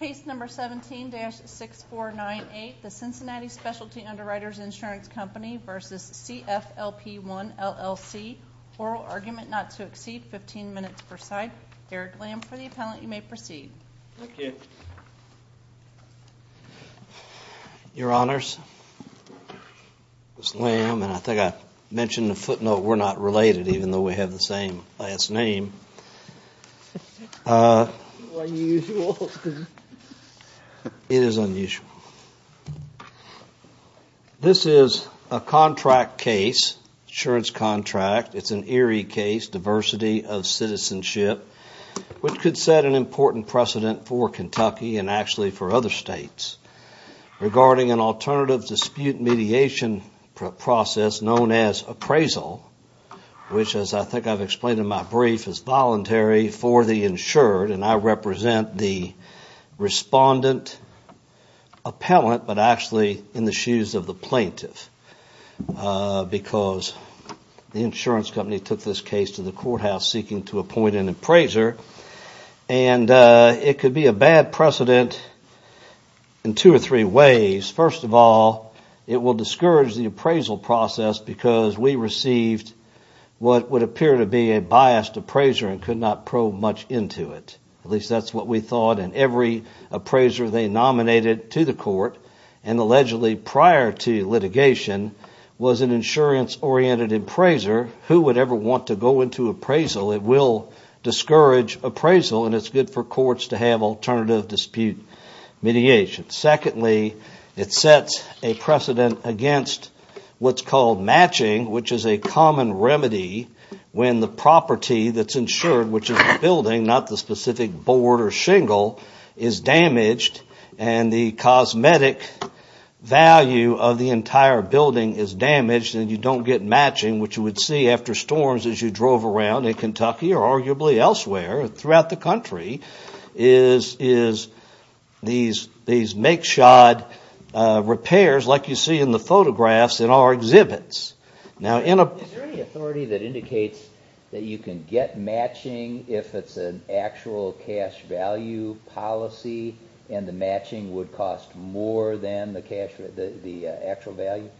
Case number 17-6498, the Cincinnati Specialty Underwriters Insurance Company v. CFLP 1 LLC, Oral Argument Not to Exceed, 15 minutes per side. Derek Lamb for the appellant. You may proceed. Thank you. Your Honors, this is Lamb, and I think I mentioned in the footnote we're not related, even though we have the same last name. Unusual. It is unusual. This is a contract case, insurance contract. It's an Erie case, diversity of citizenship, which could set an important precedent for Kentucky and actually for other states regarding an alternative dispute mediation process known as appraisal, which, as I think I've explained in my brief, is voluntary for the insured. And I represent the respondent appellant, but actually in the shoes of the plaintiff because the insurance company took this case to the courthouse seeking to appoint an appraiser. And it could be a bad precedent in two or three ways. First of all, it will discourage the appraisal process because we received what would appear to be a biased appraiser and could not probe much into it. At least that's what we thought, and every appraiser they nominated to the court and allegedly prior to litigation was an insurance-oriented appraiser. Who would ever want to go into appraisal? It will discourage appraisal, and it's good for courts to have alternative dispute mediation. Secondly, it sets a precedent against what's called matching, which is a common remedy when the property that's insured, which is a building, not the specific board or shingle, is damaged and the cosmetic value of the entire building is damaged and you don't get matching, which you would see after storms as you drove around in Kentucky or arguably elsewhere throughout the country is these makeshod repairs like you see in the photographs in our exhibits. Is there any authority that indicates that you can get matching if it's an actual cash value policy and the matching would cost more than the actual value?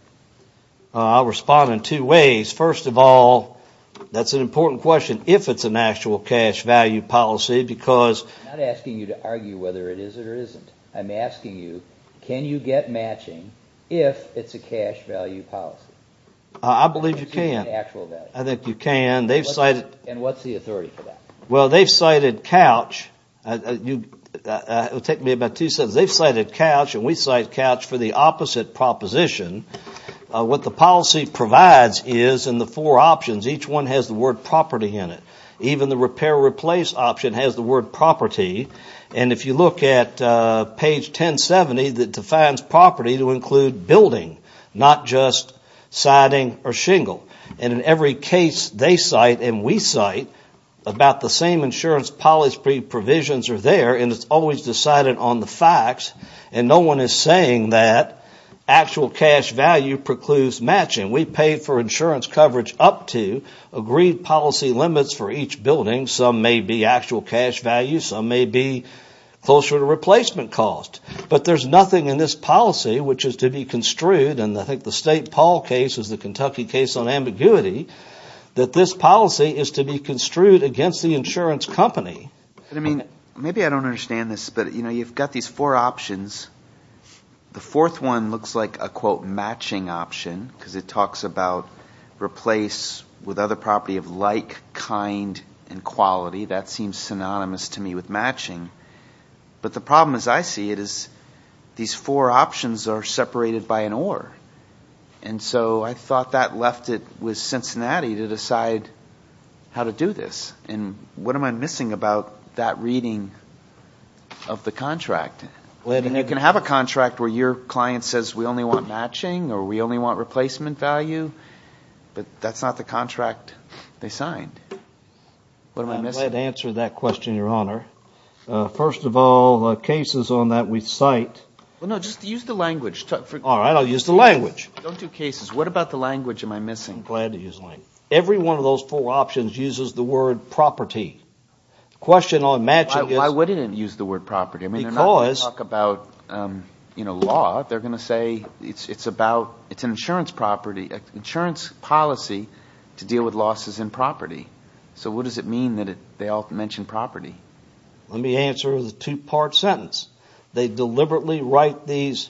I'll respond in two ways. First of all, that's an important question. If it's an actual cash value policy because... I'm not asking you to argue whether it is or isn't. I'm asking you, can you get matching if it's a cash value policy? I believe you can. I think you can. And what's the authority for that? Well, they've cited Couch. It'll take me about two sentences. They've cited Couch and we cite Couch for the opposite proposition. What the policy provides is in the four options, each one has the word property in it. Even the repair or replace option has the word property. And if you look at page 1070, it defines property to include building, not just siding or shingle. And in every case they cite and we cite about the same insurance policy provisions are there and it's always decided on the facts and no one is saying that actual cash value precludes matching. We pay for insurance coverage up to agreed policy limits for each building. Some may be actual cash value, some may be closer to replacement cost. But there's nothing in this policy which is to be construed, and I think the State Paul case is the Kentucky case on ambiguity, that this policy is to be construed against the insurance company. Maybe I don't understand this, but you've got these four options. The fourth one looks like a, quote, matching option because it talks about replace with other property of like, kind, and quality. That seems synonymous to me with matching. But the problem as I see it is these four options are separated by an or. And so I thought that left it with Cincinnati to decide how to do this. And what am I missing about that reading of the contract? You can have a contract where your client says we only want matching or we only want replacement value, but that's not the contract they signed. What am I missing? I'm glad to answer that question, Your Honor. First of all, the cases on that we cite. Well, no, just use the language. All right, I'll use the language. Don't do cases. What about the language am I missing? I'm glad to use language. Every one of those four options uses the word property. The question on matching is... Why wouldn't it use the word property? Because... I mean, they're not going to talk about law. They're going to say it's an insurance policy to deal with losses in property. So what does it mean that they all mention property? Let me answer the two-part sentence. They deliberately write these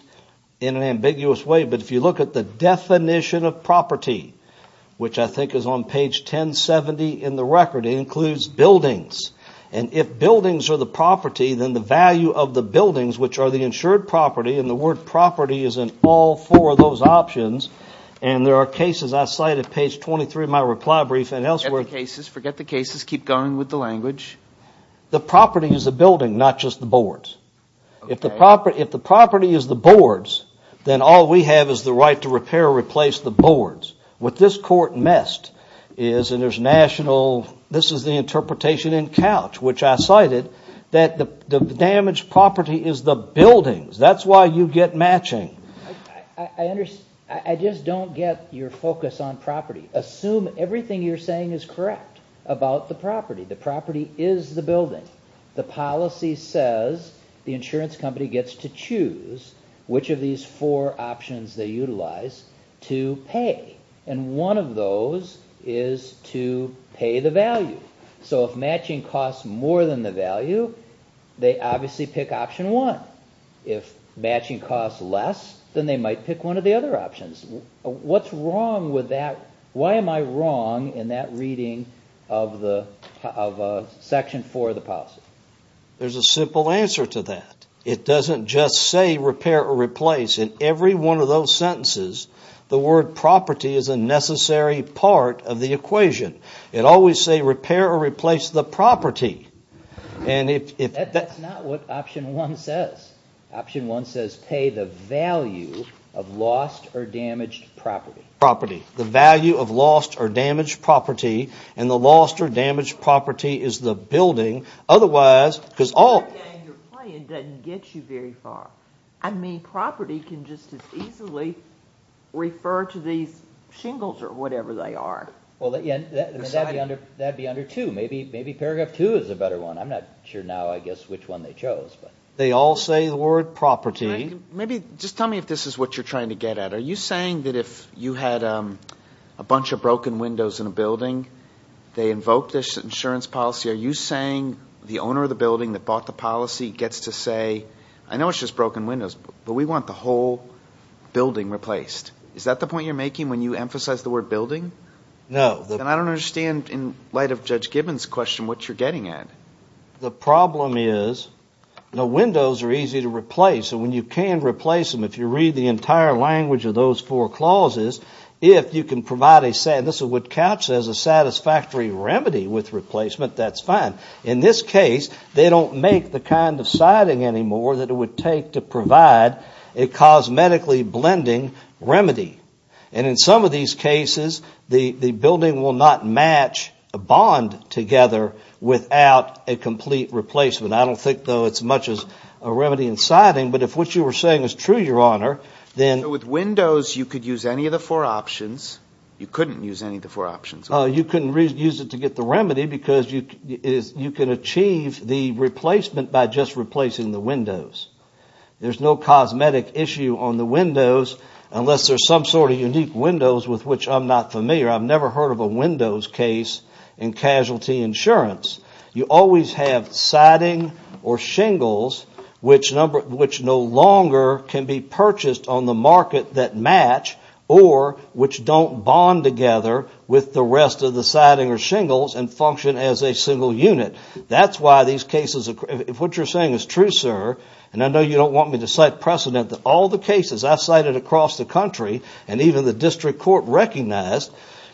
in an ambiguous way, but if you look at the definition of property, which I think is on page 1070 in the record, it includes buildings. And if buildings are the property, then the value of the buildings, which are the insured property, and the word property is in all four of those options, and there are cases I cite at page 23 of my reply brief and elsewhere. Forget the cases. Forget the cases. Keep going with the language. The property is the building, not just the boards. If the property is the boards, then all we have is the right to repair or replace the boards. What this court missed is, and there's national... This is the interpretation in Couch, which I cited, that the damaged property is the buildings. That's why you get matching. I just don't get your focus on property. Assume everything you're saying is correct about the property. The property is the building. The policy says the insurance company gets to choose which of these four options they utilize to pay, and one of those is to pay the value. So if matching costs more than the value, they obviously pick option one. If matching costs less, then they might pick one of the other options. What's wrong with that? Why am I wrong in that reading of section four of the policy? There's a simple answer to that. It doesn't just say repair or replace. In every one of those sentences, the word property is a necessary part of the equation. It always say repair or replace the property. That's not what option one says. Option one says pay the value of lost or damaged property. Property. The value of lost or damaged property, and the lost or damaged property is the building. Otherwise, because all... Your playing doesn't get you very far. I mean, property can just as easily refer to these shingles or whatever they are. That'd be under two. Maybe paragraph two is a better one. I'm not sure now I guess which one they chose. They all say the word property. Maybe just tell me if this is what you're trying to get at. Are you saying that if you had a bunch of broken windows in a building, they invoke this insurance policy? Are you saying the owner of the building that bought the policy gets to say, I know it's just broken windows, but we want the whole building replaced? Is that the point you're making when you emphasize the word building? No. Then I don't understand, in light of Judge Gibbons' question, what you're getting at. The problem is the windows are easy to replace. And when you can replace them, if you read the entire language of those four clauses, if you can provide a satisfactory remedy with replacement, that's fine. In this case, they don't make the kind of siding anymore that it would take to provide a cosmetically blending remedy. And in some of these cases, the building will not match a bond together without a complete replacement. I don't think, though, it's much as a remedy in siding. But if what you were saying is true, Your Honor, then – With windows, you could use any of the four options. You couldn't use any of the four options. You couldn't use it to get the remedy because you can achieve the replacement by just replacing the windows. There's no cosmetic issue on the windows unless there's some sort of unique windows with which I'm not familiar. I've never heard of a windows case in casualty insurance. You always have siding or shingles which no longer can be purchased on the market that match or which don't bond together with the rest of the siding or shingles and function as a single unit. That's why these cases – if what you're saying is true, sir, and I know you don't want me to cite precedent that all the cases I've cited across the country and even the district court recognized,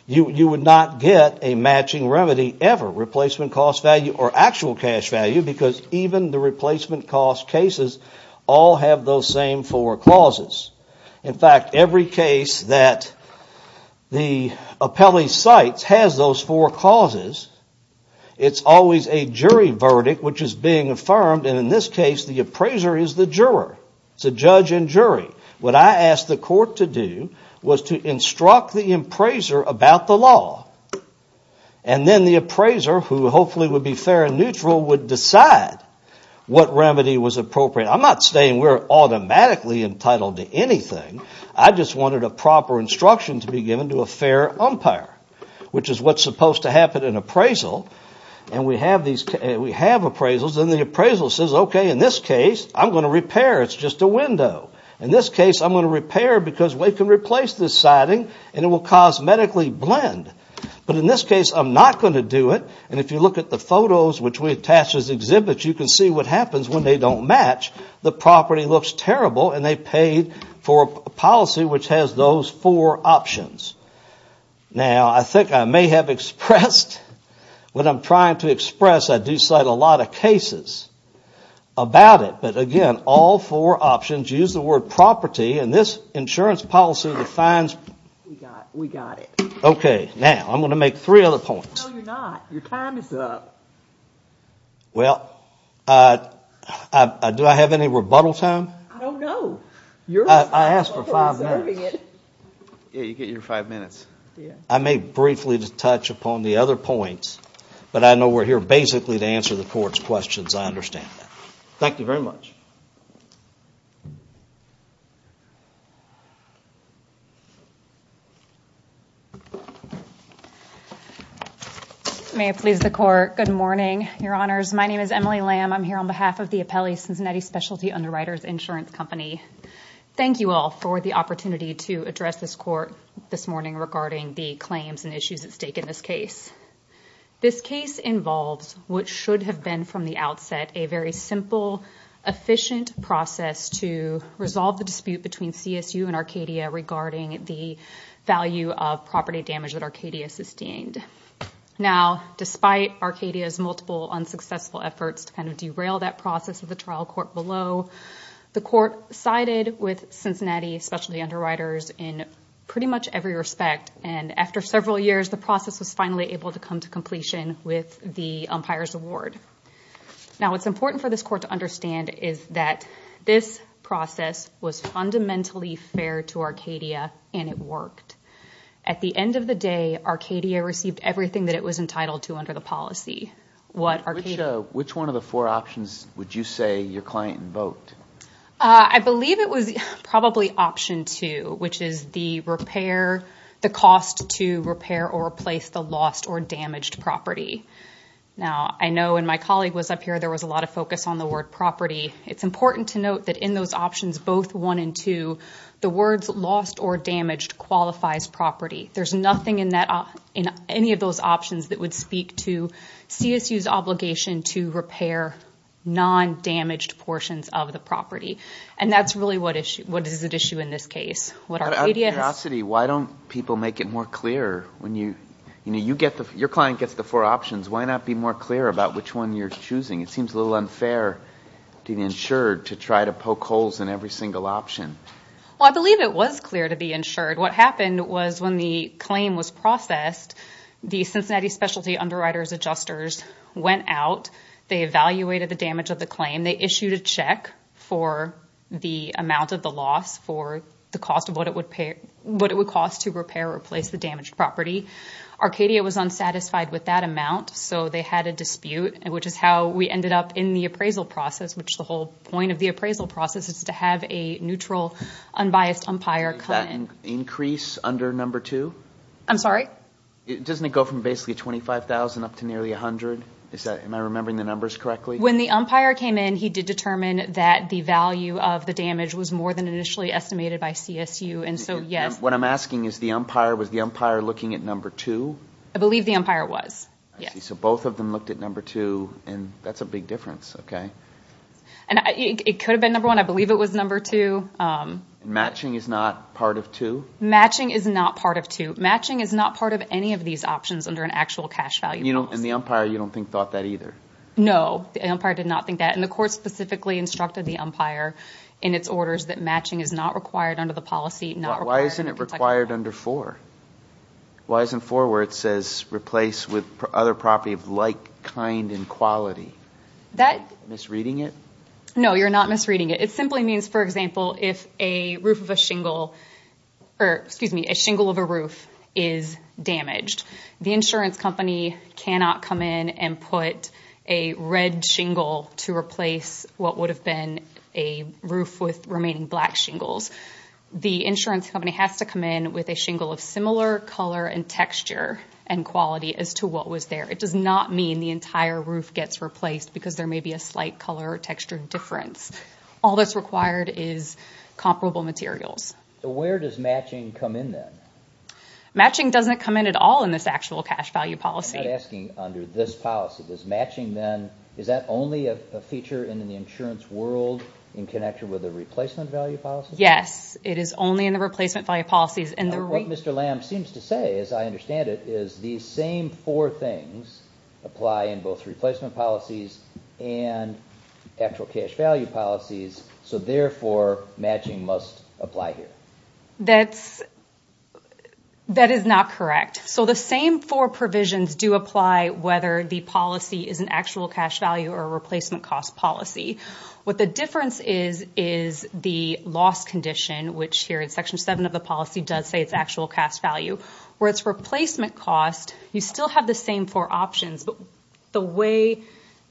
you would not get a matching remedy ever. Replacement cost value or actual cash value because even the replacement cost cases all have those same four clauses. In fact, every case that the appellee cites has those four clauses. It's always a jury verdict which is being affirmed, and in this case, the appraiser is the juror. It's a judge and jury. What I asked the court to do was to instruct the appraiser about the law, and then the appraiser, who hopefully would be fair and neutral, would decide what remedy was appropriate. I'm not saying we're automatically entitled to anything. I just wanted a proper instruction to be given to a fair umpire, which is what's supposed to happen in appraisal. And we have appraisals, and the appraisal says, okay, in this case, I'm going to repair. It's just a window. In this case, I'm going to repair because we can replace this siding, and it will cosmetically blend. But in this case, I'm not going to do it, and if you look at the photos which we attach as exhibits, you can see what happens when they don't match. The property looks terrible, and they paid for a policy which has those four options. Now, I think I may have expressed what I'm trying to express. I do cite a lot of cases about it, but again, all four options use the word property, and this insurance policy defines... We got it. Okay, now, I'm going to make three other points. No, you're not. Your time is up. Well, do I have any rebuttal time? I don't know. I asked for five minutes. Yeah, you get your five minutes. I may briefly touch upon the other points, but I know we're here basically to answer the court's questions. I understand that. Thank you very much. Thank you. May it please the court, good morning, Your Honors. My name is Emily Lamb. I'm here on behalf of the Apelli Cincinnati Specialty Underwriters Insurance Company. Thank you all for the opportunity to address this court this morning regarding the claims and issues at stake in this case. This case involves what should have been from the outset a very simple, efficient process to resolve the dispute between CSU and Arcadia regarding the value of property damage that Arcadia sustained. Now, despite Arcadia's multiple unsuccessful efforts to kind of derail that process of the trial court below, the court sided with Cincinnati Specialty Underwriters in pretty much every respect, and after several years, the process was finally able to come to completion with the umpire's award. Now, what's important for this court to understand is that this process was fundamentally fair to Arcadia, and it worked. At the end of the day, Arcadia received everything that it was entitled to under the policy. Which one of the four options would you say your client invoked? I believe it was probably option two, which is the repair, the cost to repair or replace the lost or damaged property. Now, I know when my colleague was up here, there was a lot of focus on the word property. It's important to note that in those options, both one and two, the words lost or damaged qualifies property. There's nothing in any of those options that would speak to CSU's obligation to repair non-damaged portions of the property, and that's really what is at issue in this case. Out of curiosity, why don't people make it more clear? Your client gets the four options. Why not be more clear about which one you're choosing? It seems a little unfair to be insured to try to poke holes in every single option. Well, I believe it was clear to be insured. What happened was when the claim was processed, the Cincinnati Specialty Underwriters Adjusters went out. They evaluated the damage of the claim. They issued a check for the amount of the loss for the cost of what it would cost to repair or replace the damaged property. Arcadia was unsatisfied with that amount, so they had a dispute, which is how we ended up in the appraisal process, which the whole point of the appraisal process is to have a neutral, unbiased umpire come in. Was there an increase under number two? I'm sorry? Doesn't it go from basically $25,000 up to nearly $100,000? Am I remembering the numbers correctly? When the umpire came in, he did determine that the value of the damage was more than initially estimated by CSU, and so yes. What I'm asking is, was the umpire looking at number two? I believe the umpire was, yes. So both of them looked at number two, and that's a big difference, okay. It could have been number one. I believe it was number two. Matching is not part of two? Matching is not part of two. Matching is not part of any of these options under an actual cash value policy. And the umpire, you don't think, thought that either? No, the umpire did not think that. And the court specifically instructed the umpire in its orders that matching is not required under the policy. Why isn't it required under four? Why isn't four where it says replace with other property of like, kind, and quality? Am I misreading it? No, you're not misreading it. It simply means, for example, if a roof of a shingle, or excuse me, a shingle of a roof is damaged, the insurance company cannot come in and put a red shingle to replace what would have been a roof with remaining black shingles. The insurance company has to come in with a shingle of similar color and texture and quality as to what was there. It does not mean the entire roof gets replaced because there may be a slight color or texture difference. All that's required is comparable materials. So where does matching come in then? Matching doesn't come in at all in this actual cash value policy. I'm not asking under this policy. Does matching then, is that only a feature in the insurance world in connection with a replacement value policy? Yes, it is only in the replacement value policies. What Mr. Lamb seems to say, as I understand it, is these same four things apply in both replacement policies and actual cash value policies, so therefore matching must apply here. That is not correct. So the same four provisions do apply whether the policy is an actual cash value or a replacement cost policy. What the difference is, is the loss condition, which here in Section 7 of the policy does say it's actual cash value. Where it's replacement cost, you still have the same four options, but the way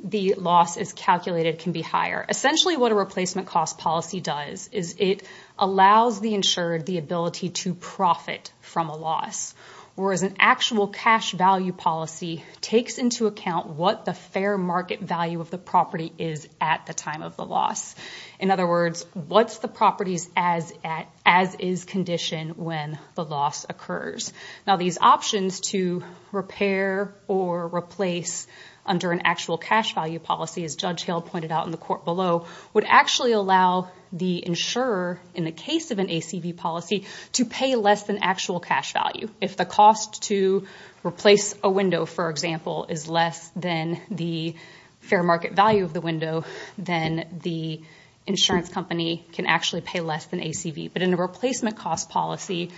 the loss is calculated can be higher. Essentially what a replacement cost policy does is it allows the insured the ability to profit from a loss, whereas an actual cash value policy takes into account what the fair market value of the property is at the time of the loss. In other words, what's the property's as-is condition when the loss occurs? These options to repair or replace under an actual cash value policy, as Judge Hale pointed out in the court below, would actually allow the insurer, in the case of an ACV policy, to pay less than actual cash value. If the cost to replace a window, for example, is less than the fair market value of the window, then the insurance company can actually pay less than ACV. But in a replacement cost policy...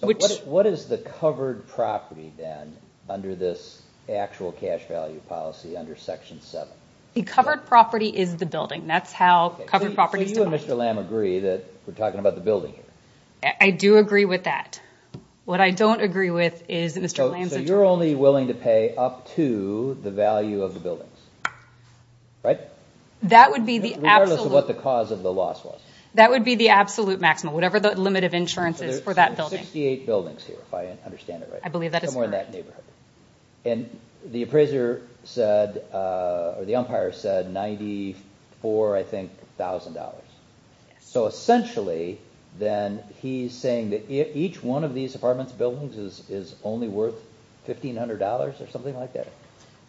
So what is the covered property then under this actual cash value policy under Section 7? The covered property is the building. That's how covered property is defined. So you and Mr. Lam agree that we're talking about the building here? I do agree with that. What I don't agree with is Mr. Lam's... So you're only willing to pay up to the value of the buildings, right? That would be the absolute... Regardless of what the cause of the loss was. That would be the absolute maximum, whatever the limit of insurance is for that building. There's 68 buildings here, if I understand it right. I believe that is correct. Somewhere in that neighborhood. And the appraiser said, or the umpire said, $94,000, I think. So essentially, then, he's saying that each one of these apartment buildings is only worth $1,500 or something like that?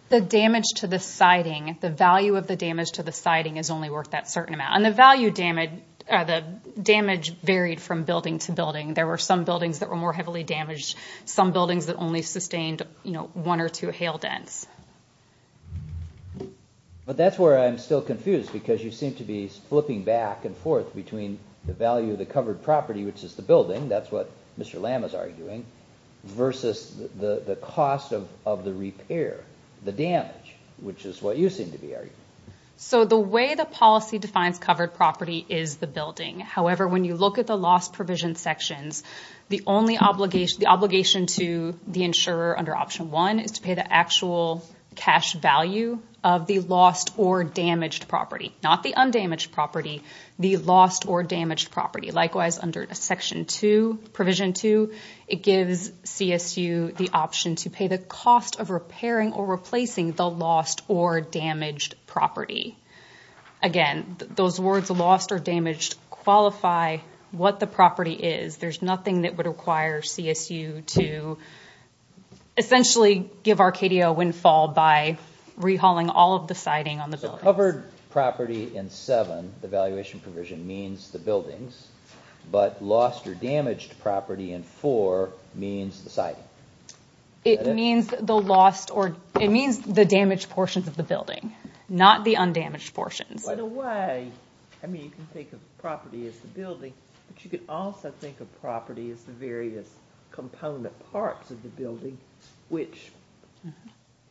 The damage to the siding, the value of the damage to the siding is only worth that certain amount. And the damage varied from building to building. There were some buildings that were more heavily damaged, some buildings that only sustained one or two hail dents. But that's where I'm still confused. Because you seem to be flipping back and forth between the value of the covered property, which is the building, that's what Mr. Lam is arguing, versus the cost of the repair, the damage, which is what you seem to be arguing. So the way the policy defines covered property is the building. However, when you look at the loss provision sections, the obligation to the insurer under Option 1 is to pay the actual cash value of the lost or damaged property. Not the undamaged property, the lost or damaged property. Likewise, under Section 2, Provision 2, it gives CSU the option to pay the cost of repairing or replacing the lost or damaged property. Again, those words lost or damaged qualify what the property is. There's nothing that would require CSU to essentially give Arcadia a windfall by rehauling all of the siding on the buildings. So covered property in 7, the valuation provision, means the buildings, but lost or damaged property in 4 means the siding. It means the damaged portions of the building, not the undamaged portions. In a way, I mean, you can think of property as the building, but you can also think of property as the various component parts of the building which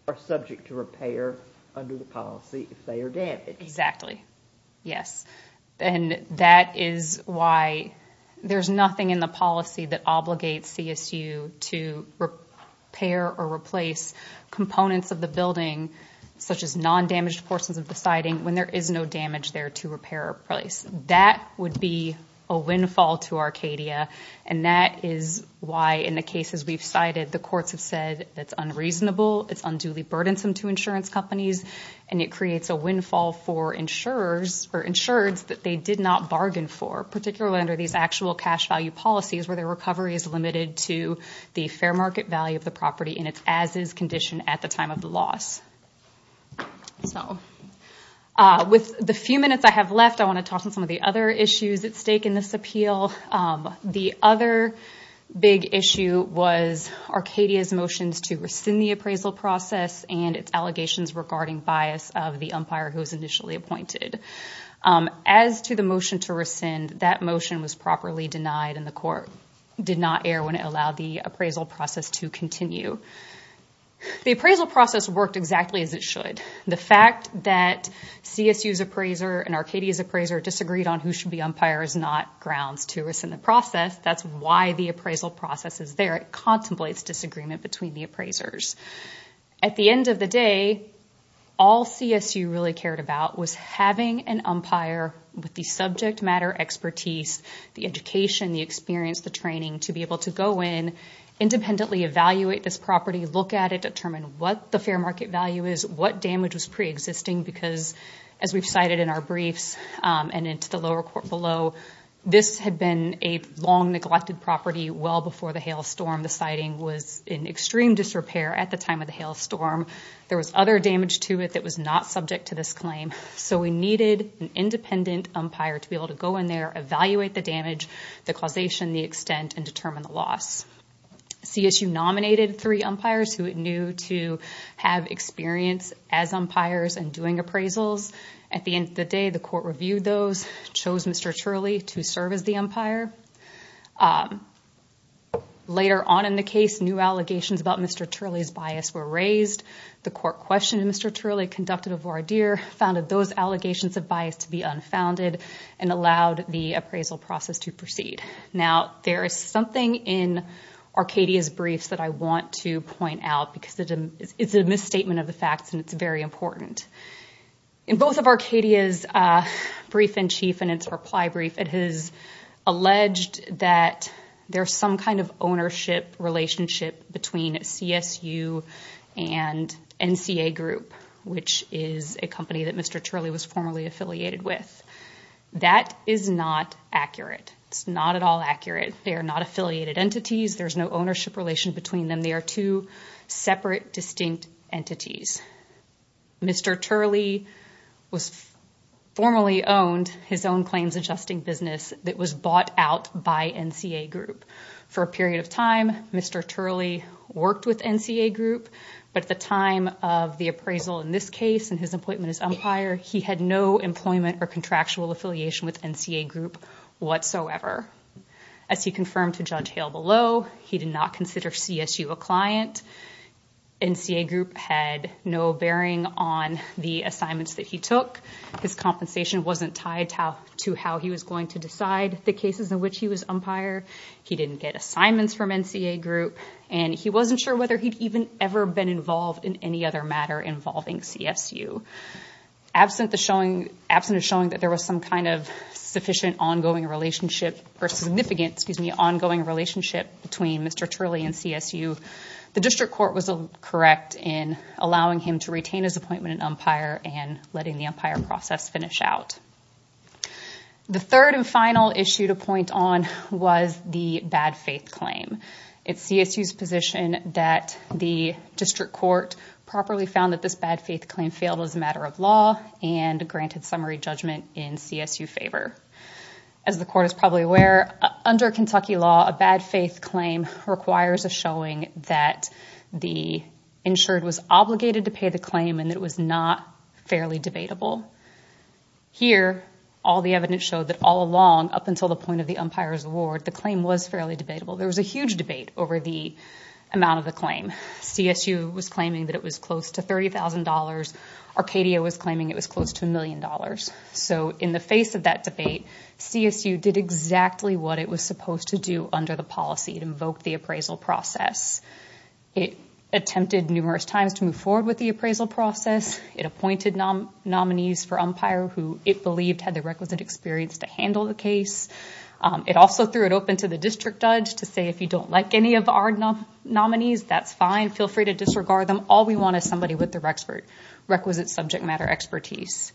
are subject to repair under the policy if they are damaged. Exactly. Yes. And that is why there's nothing in the policy that obligates CSU to repair or replace components of the building, such as non-damaged portions of the siding, when there is no damage there to repair or replace. That would be a windfall to Arcadia, and that is why in the cases we've cited, the courts have said it's unreasonable, it's unduly burdensome to insurance companies, and it creates a windfall for insurers or insureds that they did not bargain for, particularly under these actual cash value policies where their recovery is limited to the fair market value of the property in its as-is condition at the time of the loss. So with the few minutes I have left, I want to talk about some of the other issues at stake in this appeal. The other big issue was Arcadia's motions to rescind the appraisal process and its allegations regarding bias of the umpire who was initially appointed. As to the motion to rescind, that motion was properly denied, and the court did not err when it allowed the appraisal process to continue. The appraisal process worked exactly as it should. The fact that CSU's appraiser and Arcadia's appraiser disagreed on who should be umpire is not grounds to rescind the process. That's why the appraisal process is there. It contemplates disagreement between the appraisers. At the end of the day, all CSU really cared about was having an umpire with the subject matter expertise, the education, the experience, the training, to be able to go in, independently evaluate this property, look at it, determine what the fair market value is, what damage was preexisting, because as we've cited in our briefs and into the lower court below, this had been a long-neglected property well before the hail storm. The siting was in extreme disrepair at the time of the hail storm. There was other damage to it that was not subject to this claim. So we needed an independent umpire to be able to go in there, evaluate the damage, the causation, the extent, and determine the loss. CSU nominated three umpires who it knew to have experience as umpires and doing appraisals. At the end of the day, the court reviewed those, chose Mr. Turley to serve as the umpire. Later on in the case, new allegations about Mr. Turley's bias were raised. The court questioned Mr. Turley, conducted a voir dire, found that those allegations of bias to be unfounded, and allowed the appraisal process to proceed. Now there is something in Arcadia's briefs that I want to point out because it's a misstatement of the facts and it's very important. In both of Arcadia's brief-in-chief and its reply brief, it has alleged that there's some kind of ownership relationship between CSU and NCA Group, which is a company that Mr. Turley was formerly affiliated with. That is not accurate. It's not at all accurate. They are not affiliated entities. There's no ownership relation between them. They are two separate, distinct entities. Mr. Turley formally owned his own claims-adjusting business that was bought out by NCA Group. For a period of time, Mr. Turley worked with NCA Group, but at the time of the appraisal in this case and his appointment as umpire, he had no employment or contractual affiliation with NCA Group whatsoever. As he confirmed to Judge Hale below, he did not consider CSU a client. NCA Group had no bearing on the assignments that he took. His compensation wasn't tied to how he was going to decide the cases in which he was umpire. He didn't get assignments from NCA Group, and he wasn't sure whether he'd even ever been involved in any other matter involving CSU. Absent of showing that there was some kind of significant ongoing relationship between Mr. Turley and CSU, the district court was correct in allowing him to retain his appointment as umpire and letting the umpire process finish out. The third and final issue to point on was the bad faith claim. It's CSU's position that the district court properly found that this bad faith claim failed as a matter of law and granted summary judgment in CSU favor. As the court is probably aware, under Kentucky law, a bad faith claim requires a showing that the insured was obligated to pay the claim and it was not fairly debatable. Here, all the evidence showed that all along up until the point of the umpire's award, the claim was fairly debatable. There was a huge debate over the amount of the claim. CSU was claiming that it was close to $30,000. Arcadia was claiming it was close to $1 million. In the face of that debate, CSU did exactly what it was supposed to do under the policy. It invoked the appraisal process. It attempted numerous times to move forward with the appraisal process. It appointed nominees for umpire who it believed had the requisite experience to handle the case. It also threw it open to the district judge to say, if you don't like any of our nominees, that's fine. Feel free to disregard them. All we want is somebody with the requisite subject matter expertise.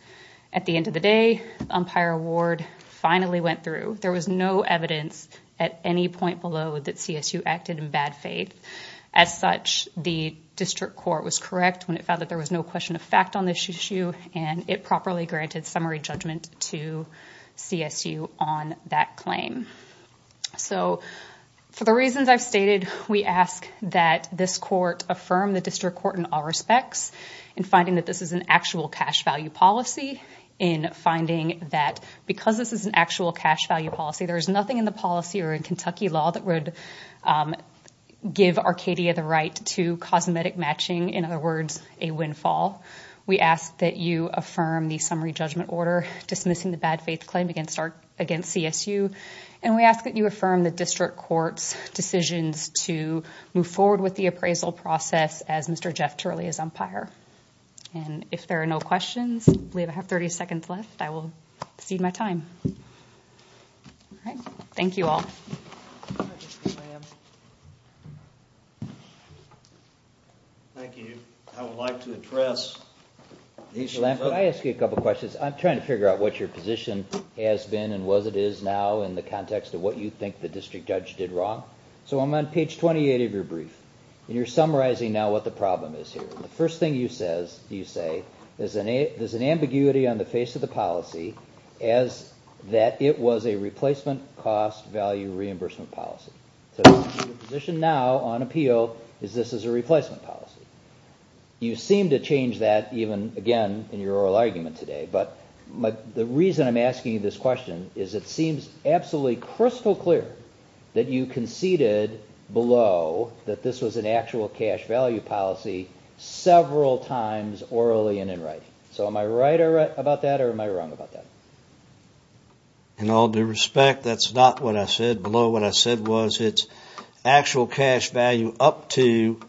At the end of the day, the umpire award finally went through. There was no evidence at any point below that CSU acted in bad faith. As such, the district court was correct when it found that there was no question of fact on this issue and it properly granted summary judgment to CSU on that claim. For the reasons I've stated, we ask that this court affirm the district court in all respects in finding that this is an actual cash value policy, in finding that because this is an actual cash value policy, there is nothing in the policy or in Kentucky law that would give Arcadia the right to cosmetic matching, in other words, a windfall. We ask that you affirm the summary judgment order dismissing the bad faith claim against CSU and we ask that you affirm the district court's decisions to move forward with the appraisal process as Mr. Jeff Turley is umpire. If there are no questions, I believe I have 30 seconds left, I will cede my time. Thank you all. Thank you. I would like to address... Could I ask you a couple questions? I'm trying to figure out what your position has been and what it is now in the context of what you think the district judge did wrong. So I'm on page 28 of your brief and you're summarizing now what the problem is here. The first thing you say is there's an ambiguity on the face of the policy as that it was a replacement cost value reimbursement policy. So your position now on appeal is this is a replacement policy. You seem to change that even, again, in your oral argument today. But the reason I'm asking you this question is it seems absolutely crystal clear that you conceded below that this was an actual cash value policy several times orally and in writing. So am I right about that or am I wrong about that? In all due respect, that's not what I said below. What I said was it's actual cash value up to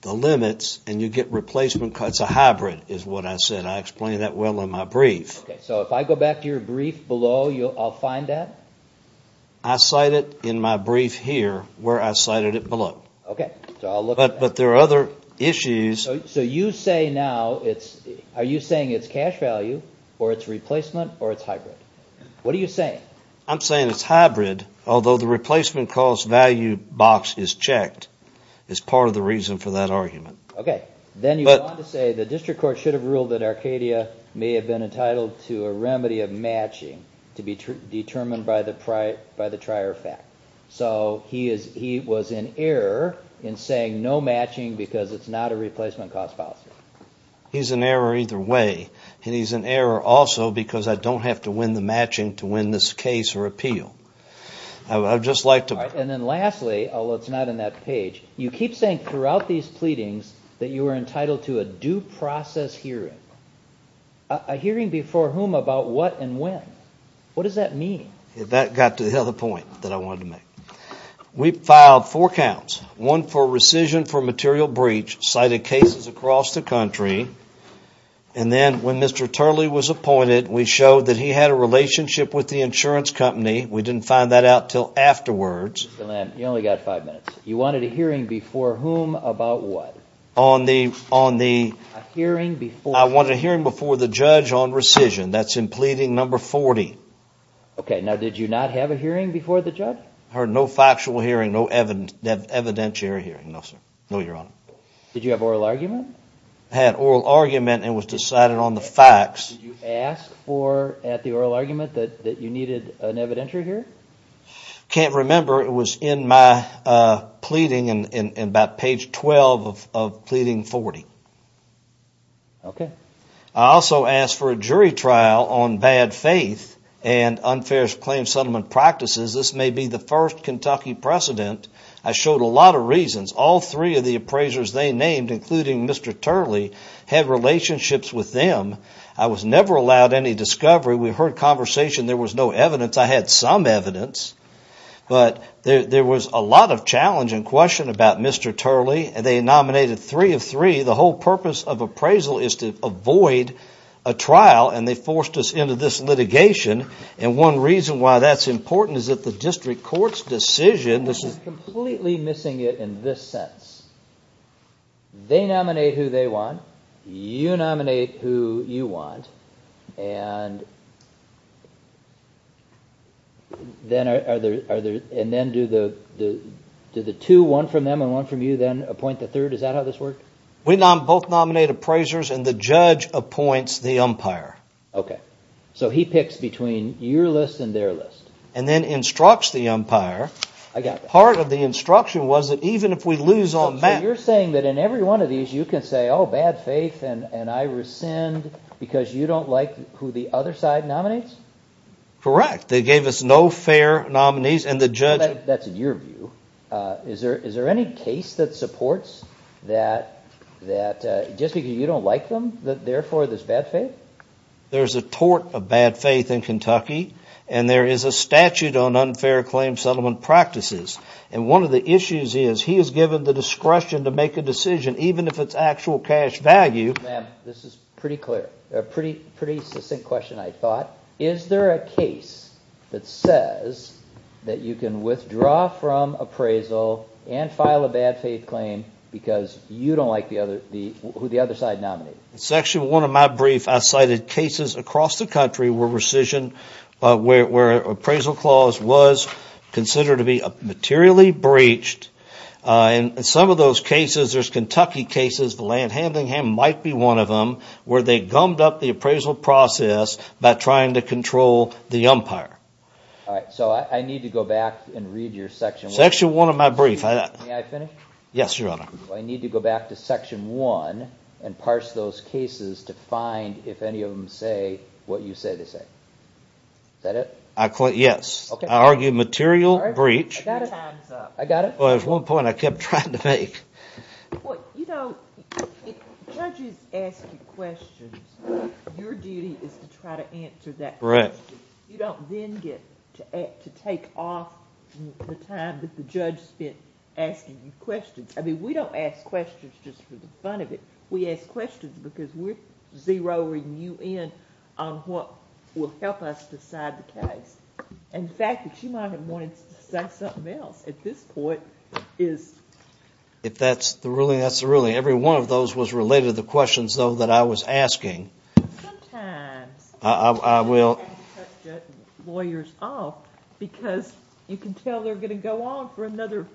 the limits and you get replacement costs, a hybrid is what I said. I explained that well in my brief. So if I go back to your brief below, I'll find that? I cite it in my brief here where I cited it below. But there are other issues. So you say now, are you saying it's cash value or it's replacement or it's hybrid? What are you saying? I'm saying it's hybrid, although the replacement cost value box is checked. It's part of the reason for that argument. Okay. Then you want to say the district court should have ruled that Arcadia may have been entitled to a remedy of matching to be determined by the trier fact. So he was in error in saying no matching because it's not a replacement cost policy. He's in error either way. And he's in error also because I don't have to win the matching to win this case or appeal. And then lastly, although it's not in that page, you keep saying throughout these pleadings that you were entitled to a due process hearing. A hearing before whom about what and when. What does that mean? That got to the other point that I wanted to make. We filed four counts. One for rescission for material breach, cited cases across the country. And then when Mr. Turley was appointed, we showed that he had a relationship with the insurance company. We didn't find that out until afterwards. Mr. Lamb, you only got five minutes. You wanted a hearing before whom about what? I wanted a hearing before the judge on rescission. That's in pleading number 40. Okay. Now, did you not have a hearing before the judge? I heard no factual hearing, no evidentiary hearing. No, sir. No, Your Honor. Did you have oral argument? I had oral argument and it was decided on the facts. Did you ask at the oral argument that you needed an evidentiary hearing? I can't remember. It was in my pleading in about page 12 of pleading 40. Okay. I also asked for a jury trial on bad faith and unfair claim settlement practices. This may be the first Kentucky precedent. I showed a lot of reasons. All three of the appraisers they named, including Mr. Turley, had relationships with them. I was never allowed any discovery. We heard conversation. There was no evidence. I had some evidence. But there was a lot of challenge and question about Mr. Turley. They nominated three of three. The whole purpose of appraisal is to avoid a trial, and they forced us into this litigation. And one reason why that's important is that the district court's decision is completely missing it in this sense. They nominate who they want. You nominate who you want. And then do the two, one from them and one from you, then appoint the third? Is that how this works? We both nominate appraisers and the judge appoints the umpire. Okay. So he picks between your list and their list. And then instructs the umpire. I got that. Part of the instruction was that even if we lose on that. So you're saying that in every one of these you can say, oh, bad faith, and I rescind because you don't like who the other side nominates? Correct. They gave us no fair nominees, and the judge. That's in your view. Is there any case that supports that just because you don't like them, therefore there's bad faith? There's a tort of bad faith in Kentucky, and there is a statute on unfair claim settlement practices. And one of the issues is he is given the discretion to make a decision, even if it's actual cash value. Ma'am, this is pretty clear. Pretty succinct question, I thought. Is there a case that says that you can withdraw from appraisal and file a bad faith claim because you don't like who the other side nominates? In section one of my brief, I cited cases across the country where appraisal clause was considered to be materially breached. In some of those cases, there's Kentucky cases, the land handling might be one of them, where they gummed up the appraisal process by trying to control the umpire. All right. So I need to go back and read your section one. Section one of my brief. May I finish? Yes, Your Honor. I need to go back to section one and parse those cases to find, if any of them say what you say they say. Is that it? Yes. I argue material breach. Your time's up. I got it? Well, there's one point I kept trying to make. Well, you know, if judges ask you questions, your duty is to try to answer that question. You don't then get to take off the time that the judge spent asking you questions. I mean, we don't ask questions just for the fun of it. We ask questions because we're zeroing you in on what will help us decide the case. And the fact that you might have wanted to say something else at this point is. If that's the ruling, that's the ruling. Every one of those was related to the questions, though, that I was asking. Sometimes. I will. You have to cut the lawyers off because you can tell they're going to go on for another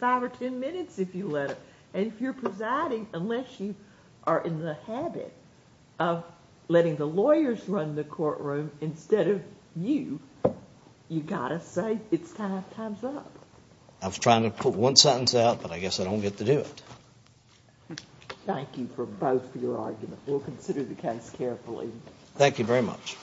five or ten minutes if you let them. And if you're presiding, unless you are in the habit of letting the lawyers run the courtroom instead of you, you've got to say it's time's up. I was trying to put one sentence out, but I guess I don't get to do it. Thank you for both your arguments. We'll consider the case carefully. Thank you very much.